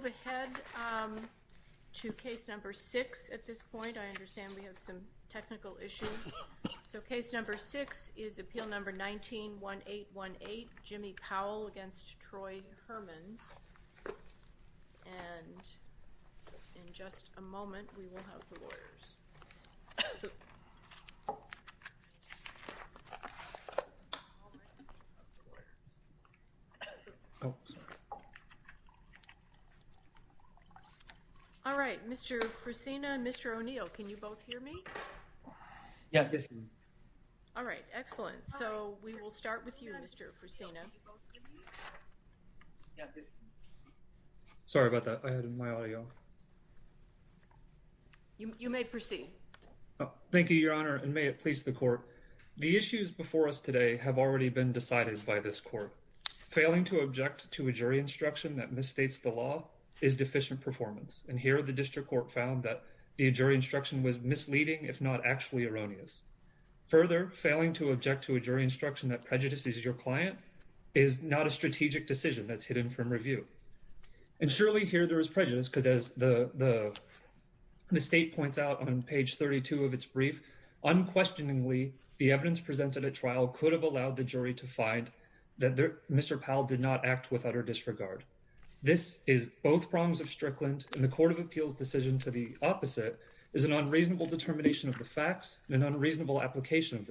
We will move ahead to case number 6 at this point. I understand we have some technical issues. So case number 6 is appeal number 19-1818, Jimmy Powell v. Troy Hermans. And in just a moment, we will have the lawyers. All right, Mr. Fresina, Mr. O'Neill, can you both hear me? Yeah, I'm listening. All right, excellent. So we will start with you, Mr. Fresina. Sorry about that. I had my audio off. You may proceed. Thank you, Your Honor, and may it please the court. The issues before us today have already been decided by this court. Failing to object to a jury instruction that misstates the law is deficient performance. And here the district court found that the jury instruction was misleading, if not actually erroneous. Further, failing to object to a jury instruction that prejudices your client is not a strategic decision that's hidden from review. And surely here there is prejudice, because as the state points out on page 32 of its brief, unquestioningly, the evidence presented at trial could have allowed the jury to find that Mr. Powell did not act with utter disregard. This is both prongs of Strickland, and the Court of Appeals' decision to the opposite is an unreasonable determination of the facts and an unreasonable application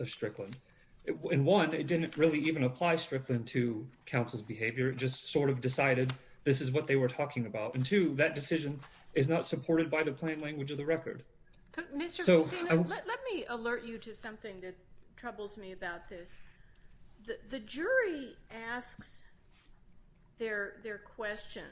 of Strickland. And one, it didn't really even apply Strickland to counsel's behavior. It just sort of decided this is what they were talking about. And two, that decision is not supported by the plain language of the record. Mr. Cusino, let me alert you to something that troubles me about this. The jury asks their question.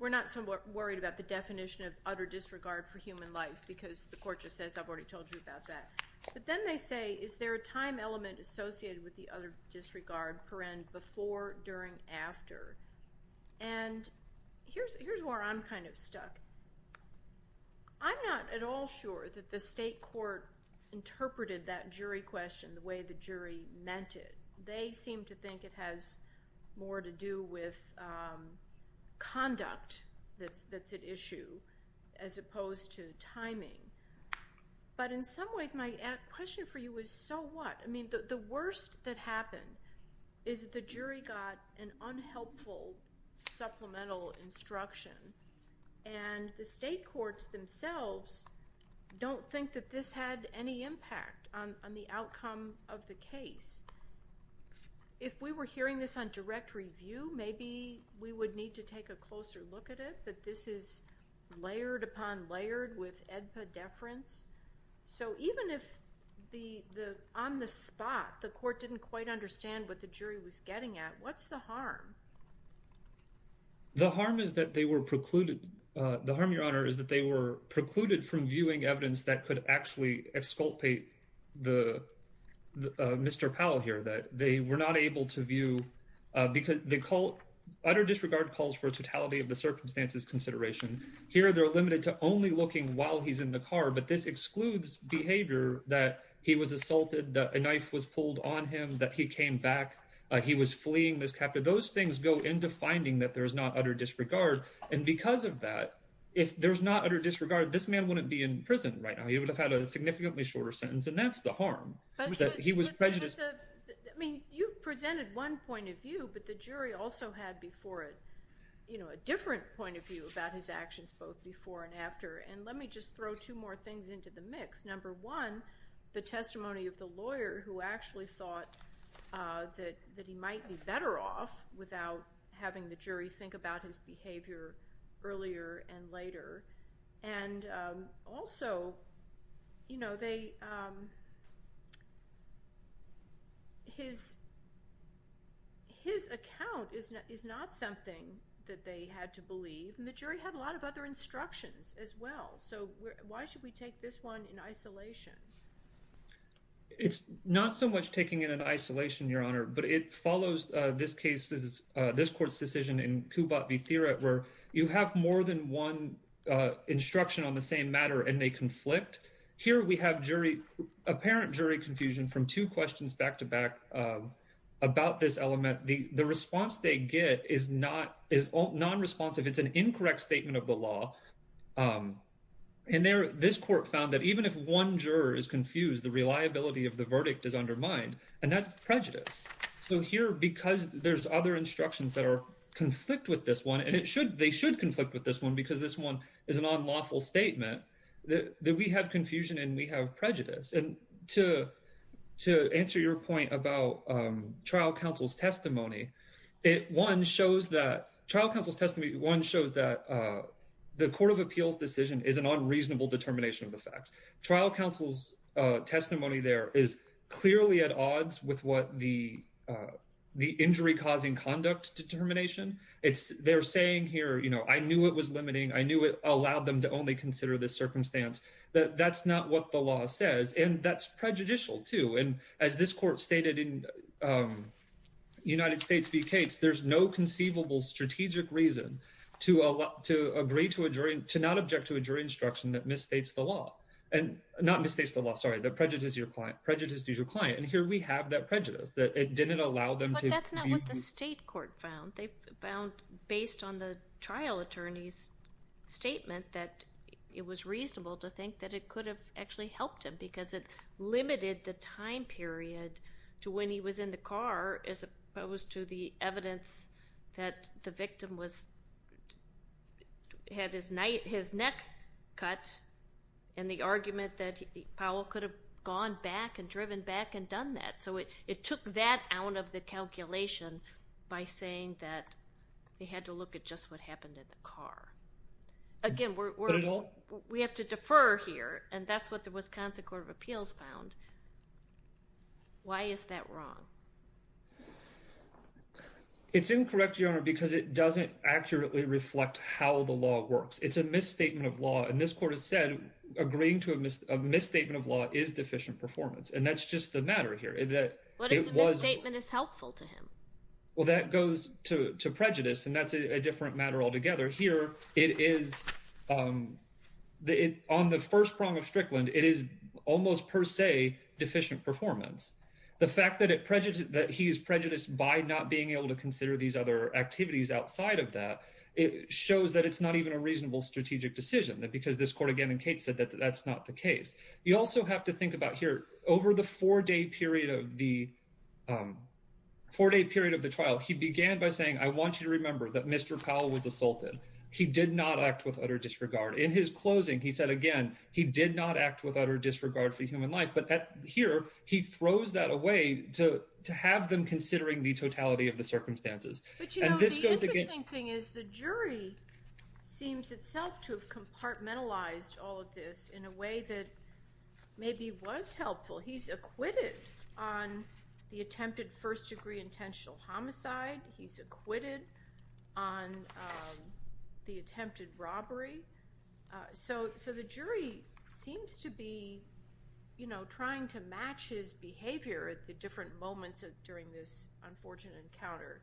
We're not so worried about the definition of utter disregard for human life, because the court just says I've already told you about that. But then they say, is there a time element associated with the utter disregard, paren, before, during, after? And here's where I'm kind of stuck. I'm not at all sure that the state court interpreted that jury question the way the jury meant it. They seem to think it has more to do with conduct that's at issue as opposed to timing. But in some ways, my question for you is, so what? I mean, the worst that happened is the jury got an unhelpful supplemental instruction, and the state courts themselves don't think that this had any impact on the outcome of the case. If we were hearing this on direct review, maybe we would need to take a closer look at it, but this is layered upon layered with AEDPA deference. So even if on the spot the court didn't quite understand what the jury was getting at, what's the harm? The harm is that they were precluded. The harm, Your Honor, is that they were precluded from viewing evidence that could actually exculpate Mr. Powell here, that they were not able to view because they call utter disregard calls for totality of the circumstances consideration. Here they're limited to only looking while he's in the car, but this excludes behavior that he was assaulted, that a knife was pulled on him, that he came back, he was fleeing this captive. Those things go into finding that there's not utter disregard. And because of that, if there's not utter disregard, this man wouldn't be in prison right now. He would have had a significantly shorter sentence, and that's the harm, that he was prejudiced. I mean, you've presented one point of view, but the jury also had before it, you know, a different point of view about his actions both before and after. And let me just throw two more things into the mix. Number one, the testimony of the lawyer who actually thought that he might be better off without having the jury think about his behavior earlier and later. And also, you know, his account is not something that they had to believe, and the jury had a lot of other instructions as well. So why should we take this one in isolation? It's not so much taking it in isolation, Your Honor, but it follows this court's decision in Kubat v. Theriot, where you have more than one instruction on the same matter, and they conflict. Here we have apparent jury confusion from two questions back to back about this element. The response they get is non-responsive. It's an incorrect statement of the law. And this court found that even if one juror is confused, so here, because there's other instructions that conflict with this one, and they should conflict with this one because this one is an unlawful statement, that we have confusion and we have prejudice. And to answer your point about trial counsel's testimony, one shows that the court of appeals' decision is an unreasonable determination of the facts. Trial counsel's testimony there is clearly at odds with what the injury-causing conduct determination. They're saying here, you know, I knew it was limiting. I knew it allowed them to only consider this circumstance. That's not what the law says, and that's prejudicial, too. And as this court stated in United States v. Cates, there's no conceivable strategic reason to agree to a jury, to not object to a jury instruction that misstates the law. And not misstates the law, sorry, that prejudices your client. And here we have that prejudice, that it didn't allow them to be. But that's not what the state court found. They found, based on the trial attorney's statement, that it was reasonable to think that it could have actually helped him because it limited the time period to when he was in the car as opposed to the evidence that the victim had his neck cut and the argument that Powell could have gone back and driven back and done that. So it took that out of the calculation by saying that they had to look at just what happened in the car. Again, we have to defer here, and that's what the Wisconsin Court of Appeals found. Why is that wrong? It's incorrect, Your Honor, because it doesn't accurately reflect how the law works. It's a misstatement of law, and this court has said agreeing to a misstatement of law is deficient performance. And that's just the matter here. What if the misstatement is helpful to him? Well, that goes to prejudice, and that's a different matter altogether. Here, on the first prong of Strickland, it is almost per se deficient performance. The fact that he is prejudiced by not being able to consider these other activities outside of that, it shows that it's not even a reasonable strategic decision because this court, again, in case said that that's not the case. You also have to think about here, over the four-day period of the trial, he began by saying, I want you to remember that Mr. Powell was assaulted. He did not act with utter disregard. In his closing, he said again, he did not act with utter disregard for human life. But here, he throws that away to have them considering the totality of the circumstances. But, you know, the interesting thing is the jury seems itself to have compartmentalized all of this in a way that maybe was helpful. He's acquitted on the attempted first-degree intentional homicide. He's acquitted on the attempted robbery. So the jury seems to be, you know, trying to match his behavior at the different moments during this unfortunate encounter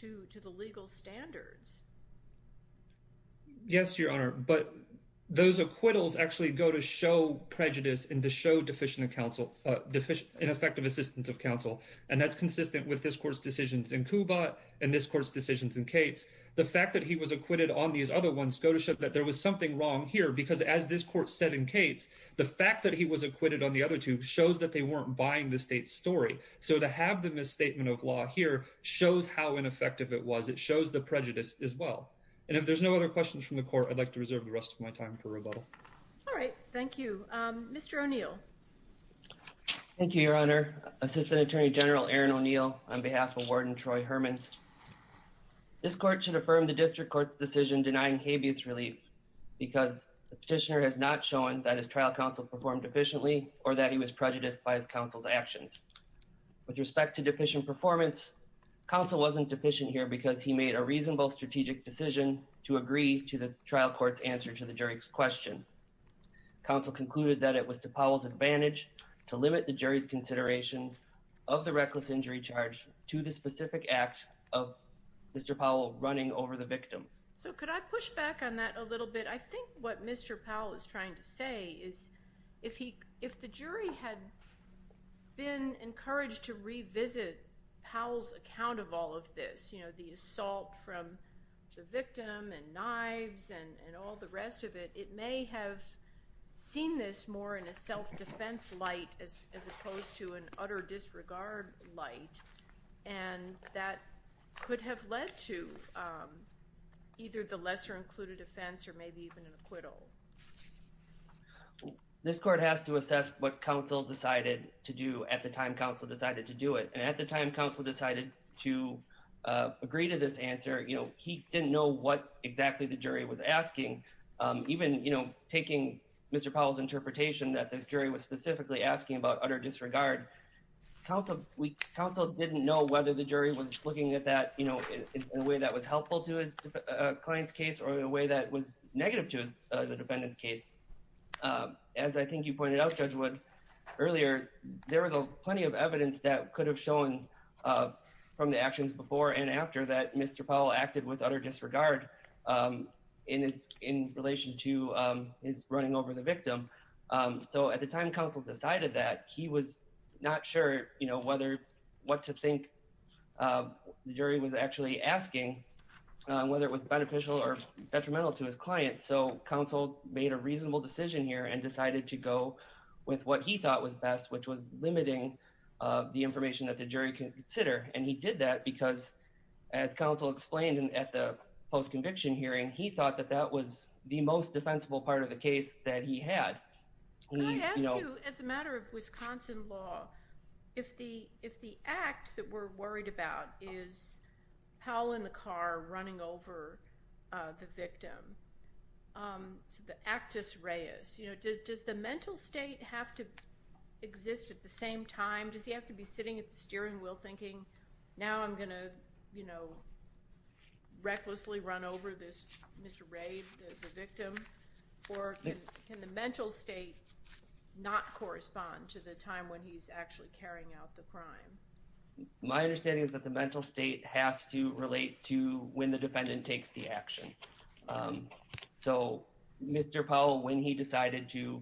to the legal standards. Yes, Your Honor. But those acquittals actually go to show prejudice and to show deficient counsel, in effect, of assistance of counsel. And that's consistent with this court's decisions in Kubat and this court's decisions in Cates. The fact that he was acquitted on these other ones go to show that there was something wrong here because, as this court said in Cates, the fact that he was acquitted on the other two shows that they weren't buying the state's story. So to have the misstatement of law here shows how ineffective it was. It shows the prejudice as well. And if there's no other questions from the court, I'd like to reserve the rest of my time for rebuttal. All right. Thank you. Mr. O'Neill. Thank you, Your Honor. Assistant Attorney General Aaron O'Neill on behalf of Warden Troy Herman. This court should affirm the district court's decision denying habeas relief because the petitioner has not shown that his trial counsel performed efficiently or that he was prejudiced by his counsel's actions. With respect to deficient performance, counsel wasn't deficient here because he made a reasonable strategic decision to agree to the trial court's answer to the jury's question. Counsel concluded that it was to Powell's advantage to limit the jury's consideration of the reckless injury charge to the specific act of Mr. Powell running over the victim. So could I push back on that a little bit? I think what Mr. Powell is trying to say is if the jury had been encouraged to revisit Powell's account of all of this, you know, the assault from the victim and knives and all the rest of it, it may have seen this more in a self-defense light as opposed to an utter disregard light. And that could have led to either the lesser-included offense or maybe even an acquittal. This court has to assess what counsel decided to do at the time counsel decided to do it. And at the time counsel decided to agree to this answer, you know, he didn't know what exactly the jury was asking. Even, you know, taking Mr. Powell's interpretation that the jury was specifically asking about utter disregard, counsel didn't know whether the jury was looking at that in a way that was helpful to his client's case or in a way that was negative to the defendant's case. As I think you pointed out, Judge Wood, earlier, there was plenty of evidence that could have shown from the actions before and after that Mr. Powell acted with utter disregard in relation to his running over the victim. So at the time counsel decided that, he was not sure, you know, what to think the jury was actually asking, whether it was beneficial or detrimental to his client. So counsel made a reasonable decision here and decided to go with what he thought was best, which was limiting the information that the jury could consider. And he did that because, as counsel explained at the post-conviction hearing, he thought that that was the most defensible part of the case that he had. Can I ask you, as a matter of Wisconsin law, if the act that we're worried about is Powell in the car running over the victim, so the actus reus, you know, does the mental state have to exist at the same time? Does he have to be sitting at the steering wheel thinking, now I'm going to, you know, recklessly run over this Mr. Rabe, the victim? Or can the mental state not correspond to the time when he's actually carrying out the crime? My understanding is that the mental state has to relate to when the defendant takes the action. So Mr. Powell, when he decided to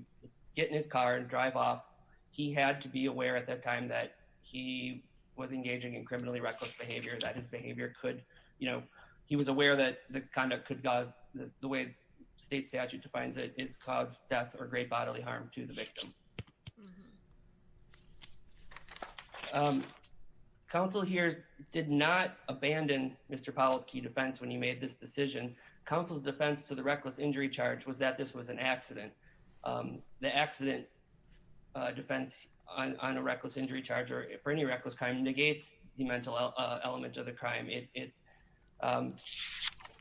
get in his car and drive off, he had to be aware at that time that he was engaging in criminally reckless behavior, that his behavior could, you know, he was aware that the conduct could cause, the way state statute defines it, is cause death or great bodily harm to the victim. Counsel here did not abandon Mr. Powell's key defense when he made this decision. Counsel's defense to the reckless injury charge was that this was an accident. The accident defense on a reckless injury charge or any reckless crime negates the mental element of the crime. It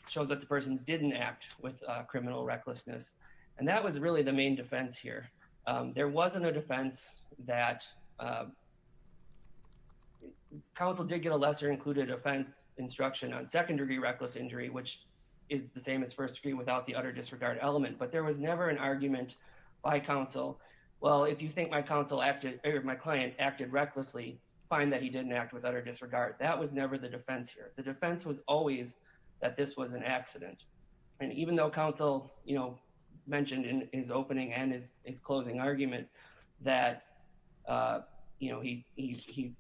shows that the person didn't act with criminal recklessness. And that was really the main defense here. There wasn't a defense that, counsel did get a lesser included offense instruction on second degree reckless injury, which is the same as first degree without the utter disregard element. But there was never an argument by counsel. Well, if you think my client acted recklessly, find that he didn't act with utter disregard. That was never the defense here. The defense was always that this was an accident. And even though counsel, you know, mentioned in his opening and his closing argument that, you know, he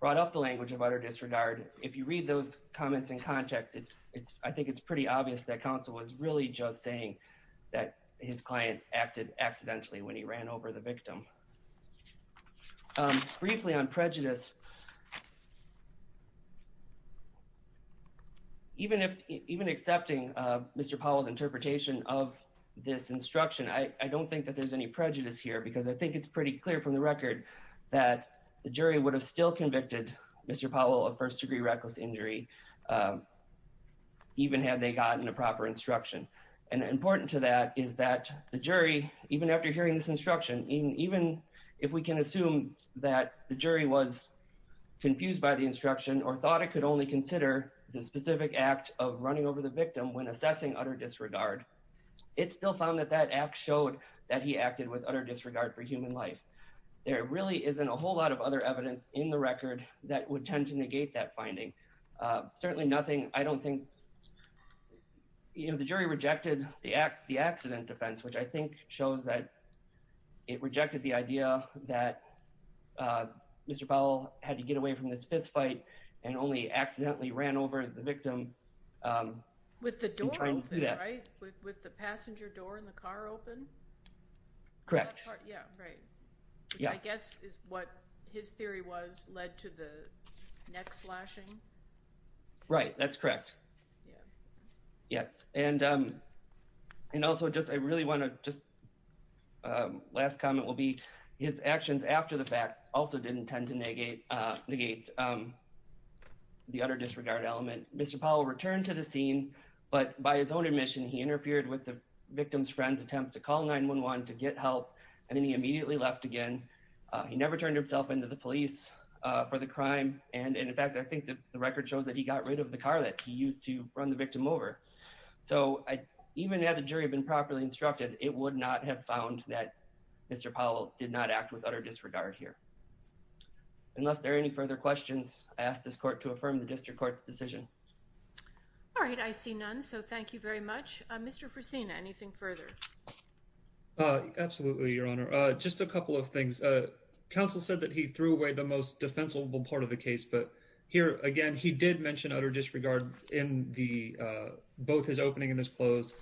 brought up the language of utter disregard, if you read those comments in context, I think it's pretty obvious that counsel was really just saying that his client acted accidentally when he ran over the victim. Briefly on prejudice. Even if even accepting Mr. Powell's interpretation of this instruction, I don't think that there's any prejudice here because I think it's pretty clear from the record that the jury would have still convicted Mr. Powell of first degree reckless injury, even had they gotten a proper instruction. And important to that is that the jury, even after hearing this instruction, even if we can assume that the jury was confused by the instruction or thought it could only consider the specific act of running over the victim when assessing utter disregard. It's still found that that act showed that he acted with utter disregard for human life. There really isn't a whole lot of other evidence in the record that would tend to negate that finding. Certainly nothing. I don't think the jury rejected the act, the accident defense, which I think shows that it rejected the idea that Mr. Powell had to get away from this fistfight and only accidentally ran over the victim. With the door open, right? With the passenger door in the car open? Correct. Yeah, right. Yeah, I guess is what his theory was led to the neck slashing. Right. That's correct. Yeah. Yes. And. And also, just I really want to just last comment will be his actions after the fact also didn't tend to negate, negate the utter disregard element. Mr. Powell returned to the scene, but by his own admission, he interfered with the victim's friends attempt to call 911 to get help. And then he immediately left again. He never turned himself into the police for the crime. And in fact, I think that the record shows that he got rid of the car that he used to run the victim over. So even had the jury been properly instructed, it would not have found that Mr. Powell did not act with utter disregard here. Unless there are any further questions, I ask this court to affirm the district court's decision. All right. I see none. So thank you very much, Mr. For seeing anything further. Absolutely. Your Honor, just a couple of things. Counsel said that he threw away the most defensible part of the case. But here again, he did mention utter disregard in the both his opening and his close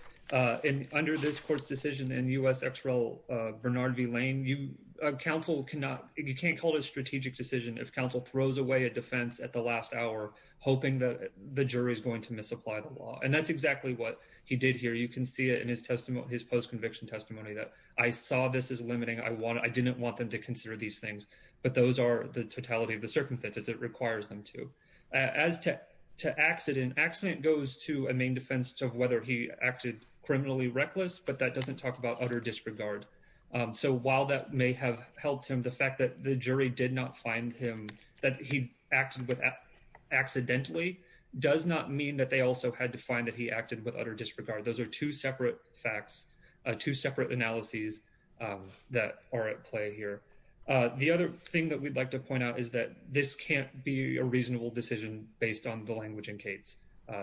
in under this court's decision and U.S. X. Bernard V. Lane, you counsel cannot you can't call it a strategic decision. If counsel throws away a defense at the last hour, hoping that the jury is going to misapply the law. And that's exactly what he did here. You can see it in his testimony, his post conviction testimony that I saw this is limiting. I want I didn't want them to consider these things, but those are the totality of the circumstances. It requires them to as to to accident. Accident goes to a main defense of whether he acted criminally reckless. But that doesn't talk about utter disregard. So while that may have helped him, the fact that the jury did not find him that he acted with accidentally does not mean that they also had to find that he acted with utter disregard. Those are two separate facts, two separate analyses that are at play here. The other thing that we'd like to point out is that this can't be a reasonable decision based on the language in case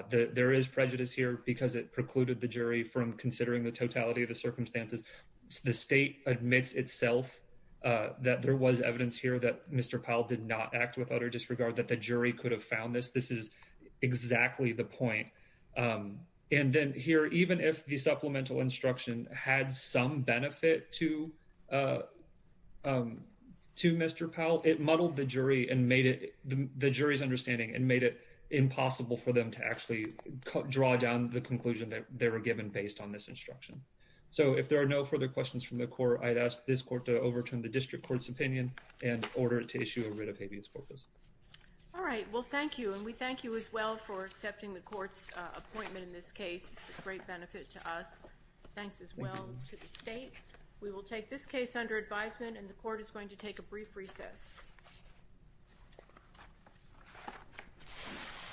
there is prejudice here because it precluded the jury from considering the totality of the circumstances. The state admits itself that there was evidence here that Mr. Powell did not act with utter disregard that the jury could have found this. This is exactly the point. And then here, even if the supplemental instruction had some benefit to to Mr. Powell, it muddled the jury and made it the jury's understanding and made it impossible for them to actually draw down the conclusion that they were given based on this instruction. So if there are no further questions from the court, I'd ask this court to overturn the district court's opinion and order it to issue a writ of habeas corpus. All right, well, thank you. And we thank you as well for accepting the court's appointment in this case. It's a great benefit to us. Thanks as well to the state. We will take this case under advisement and the court is going to take a brief recess.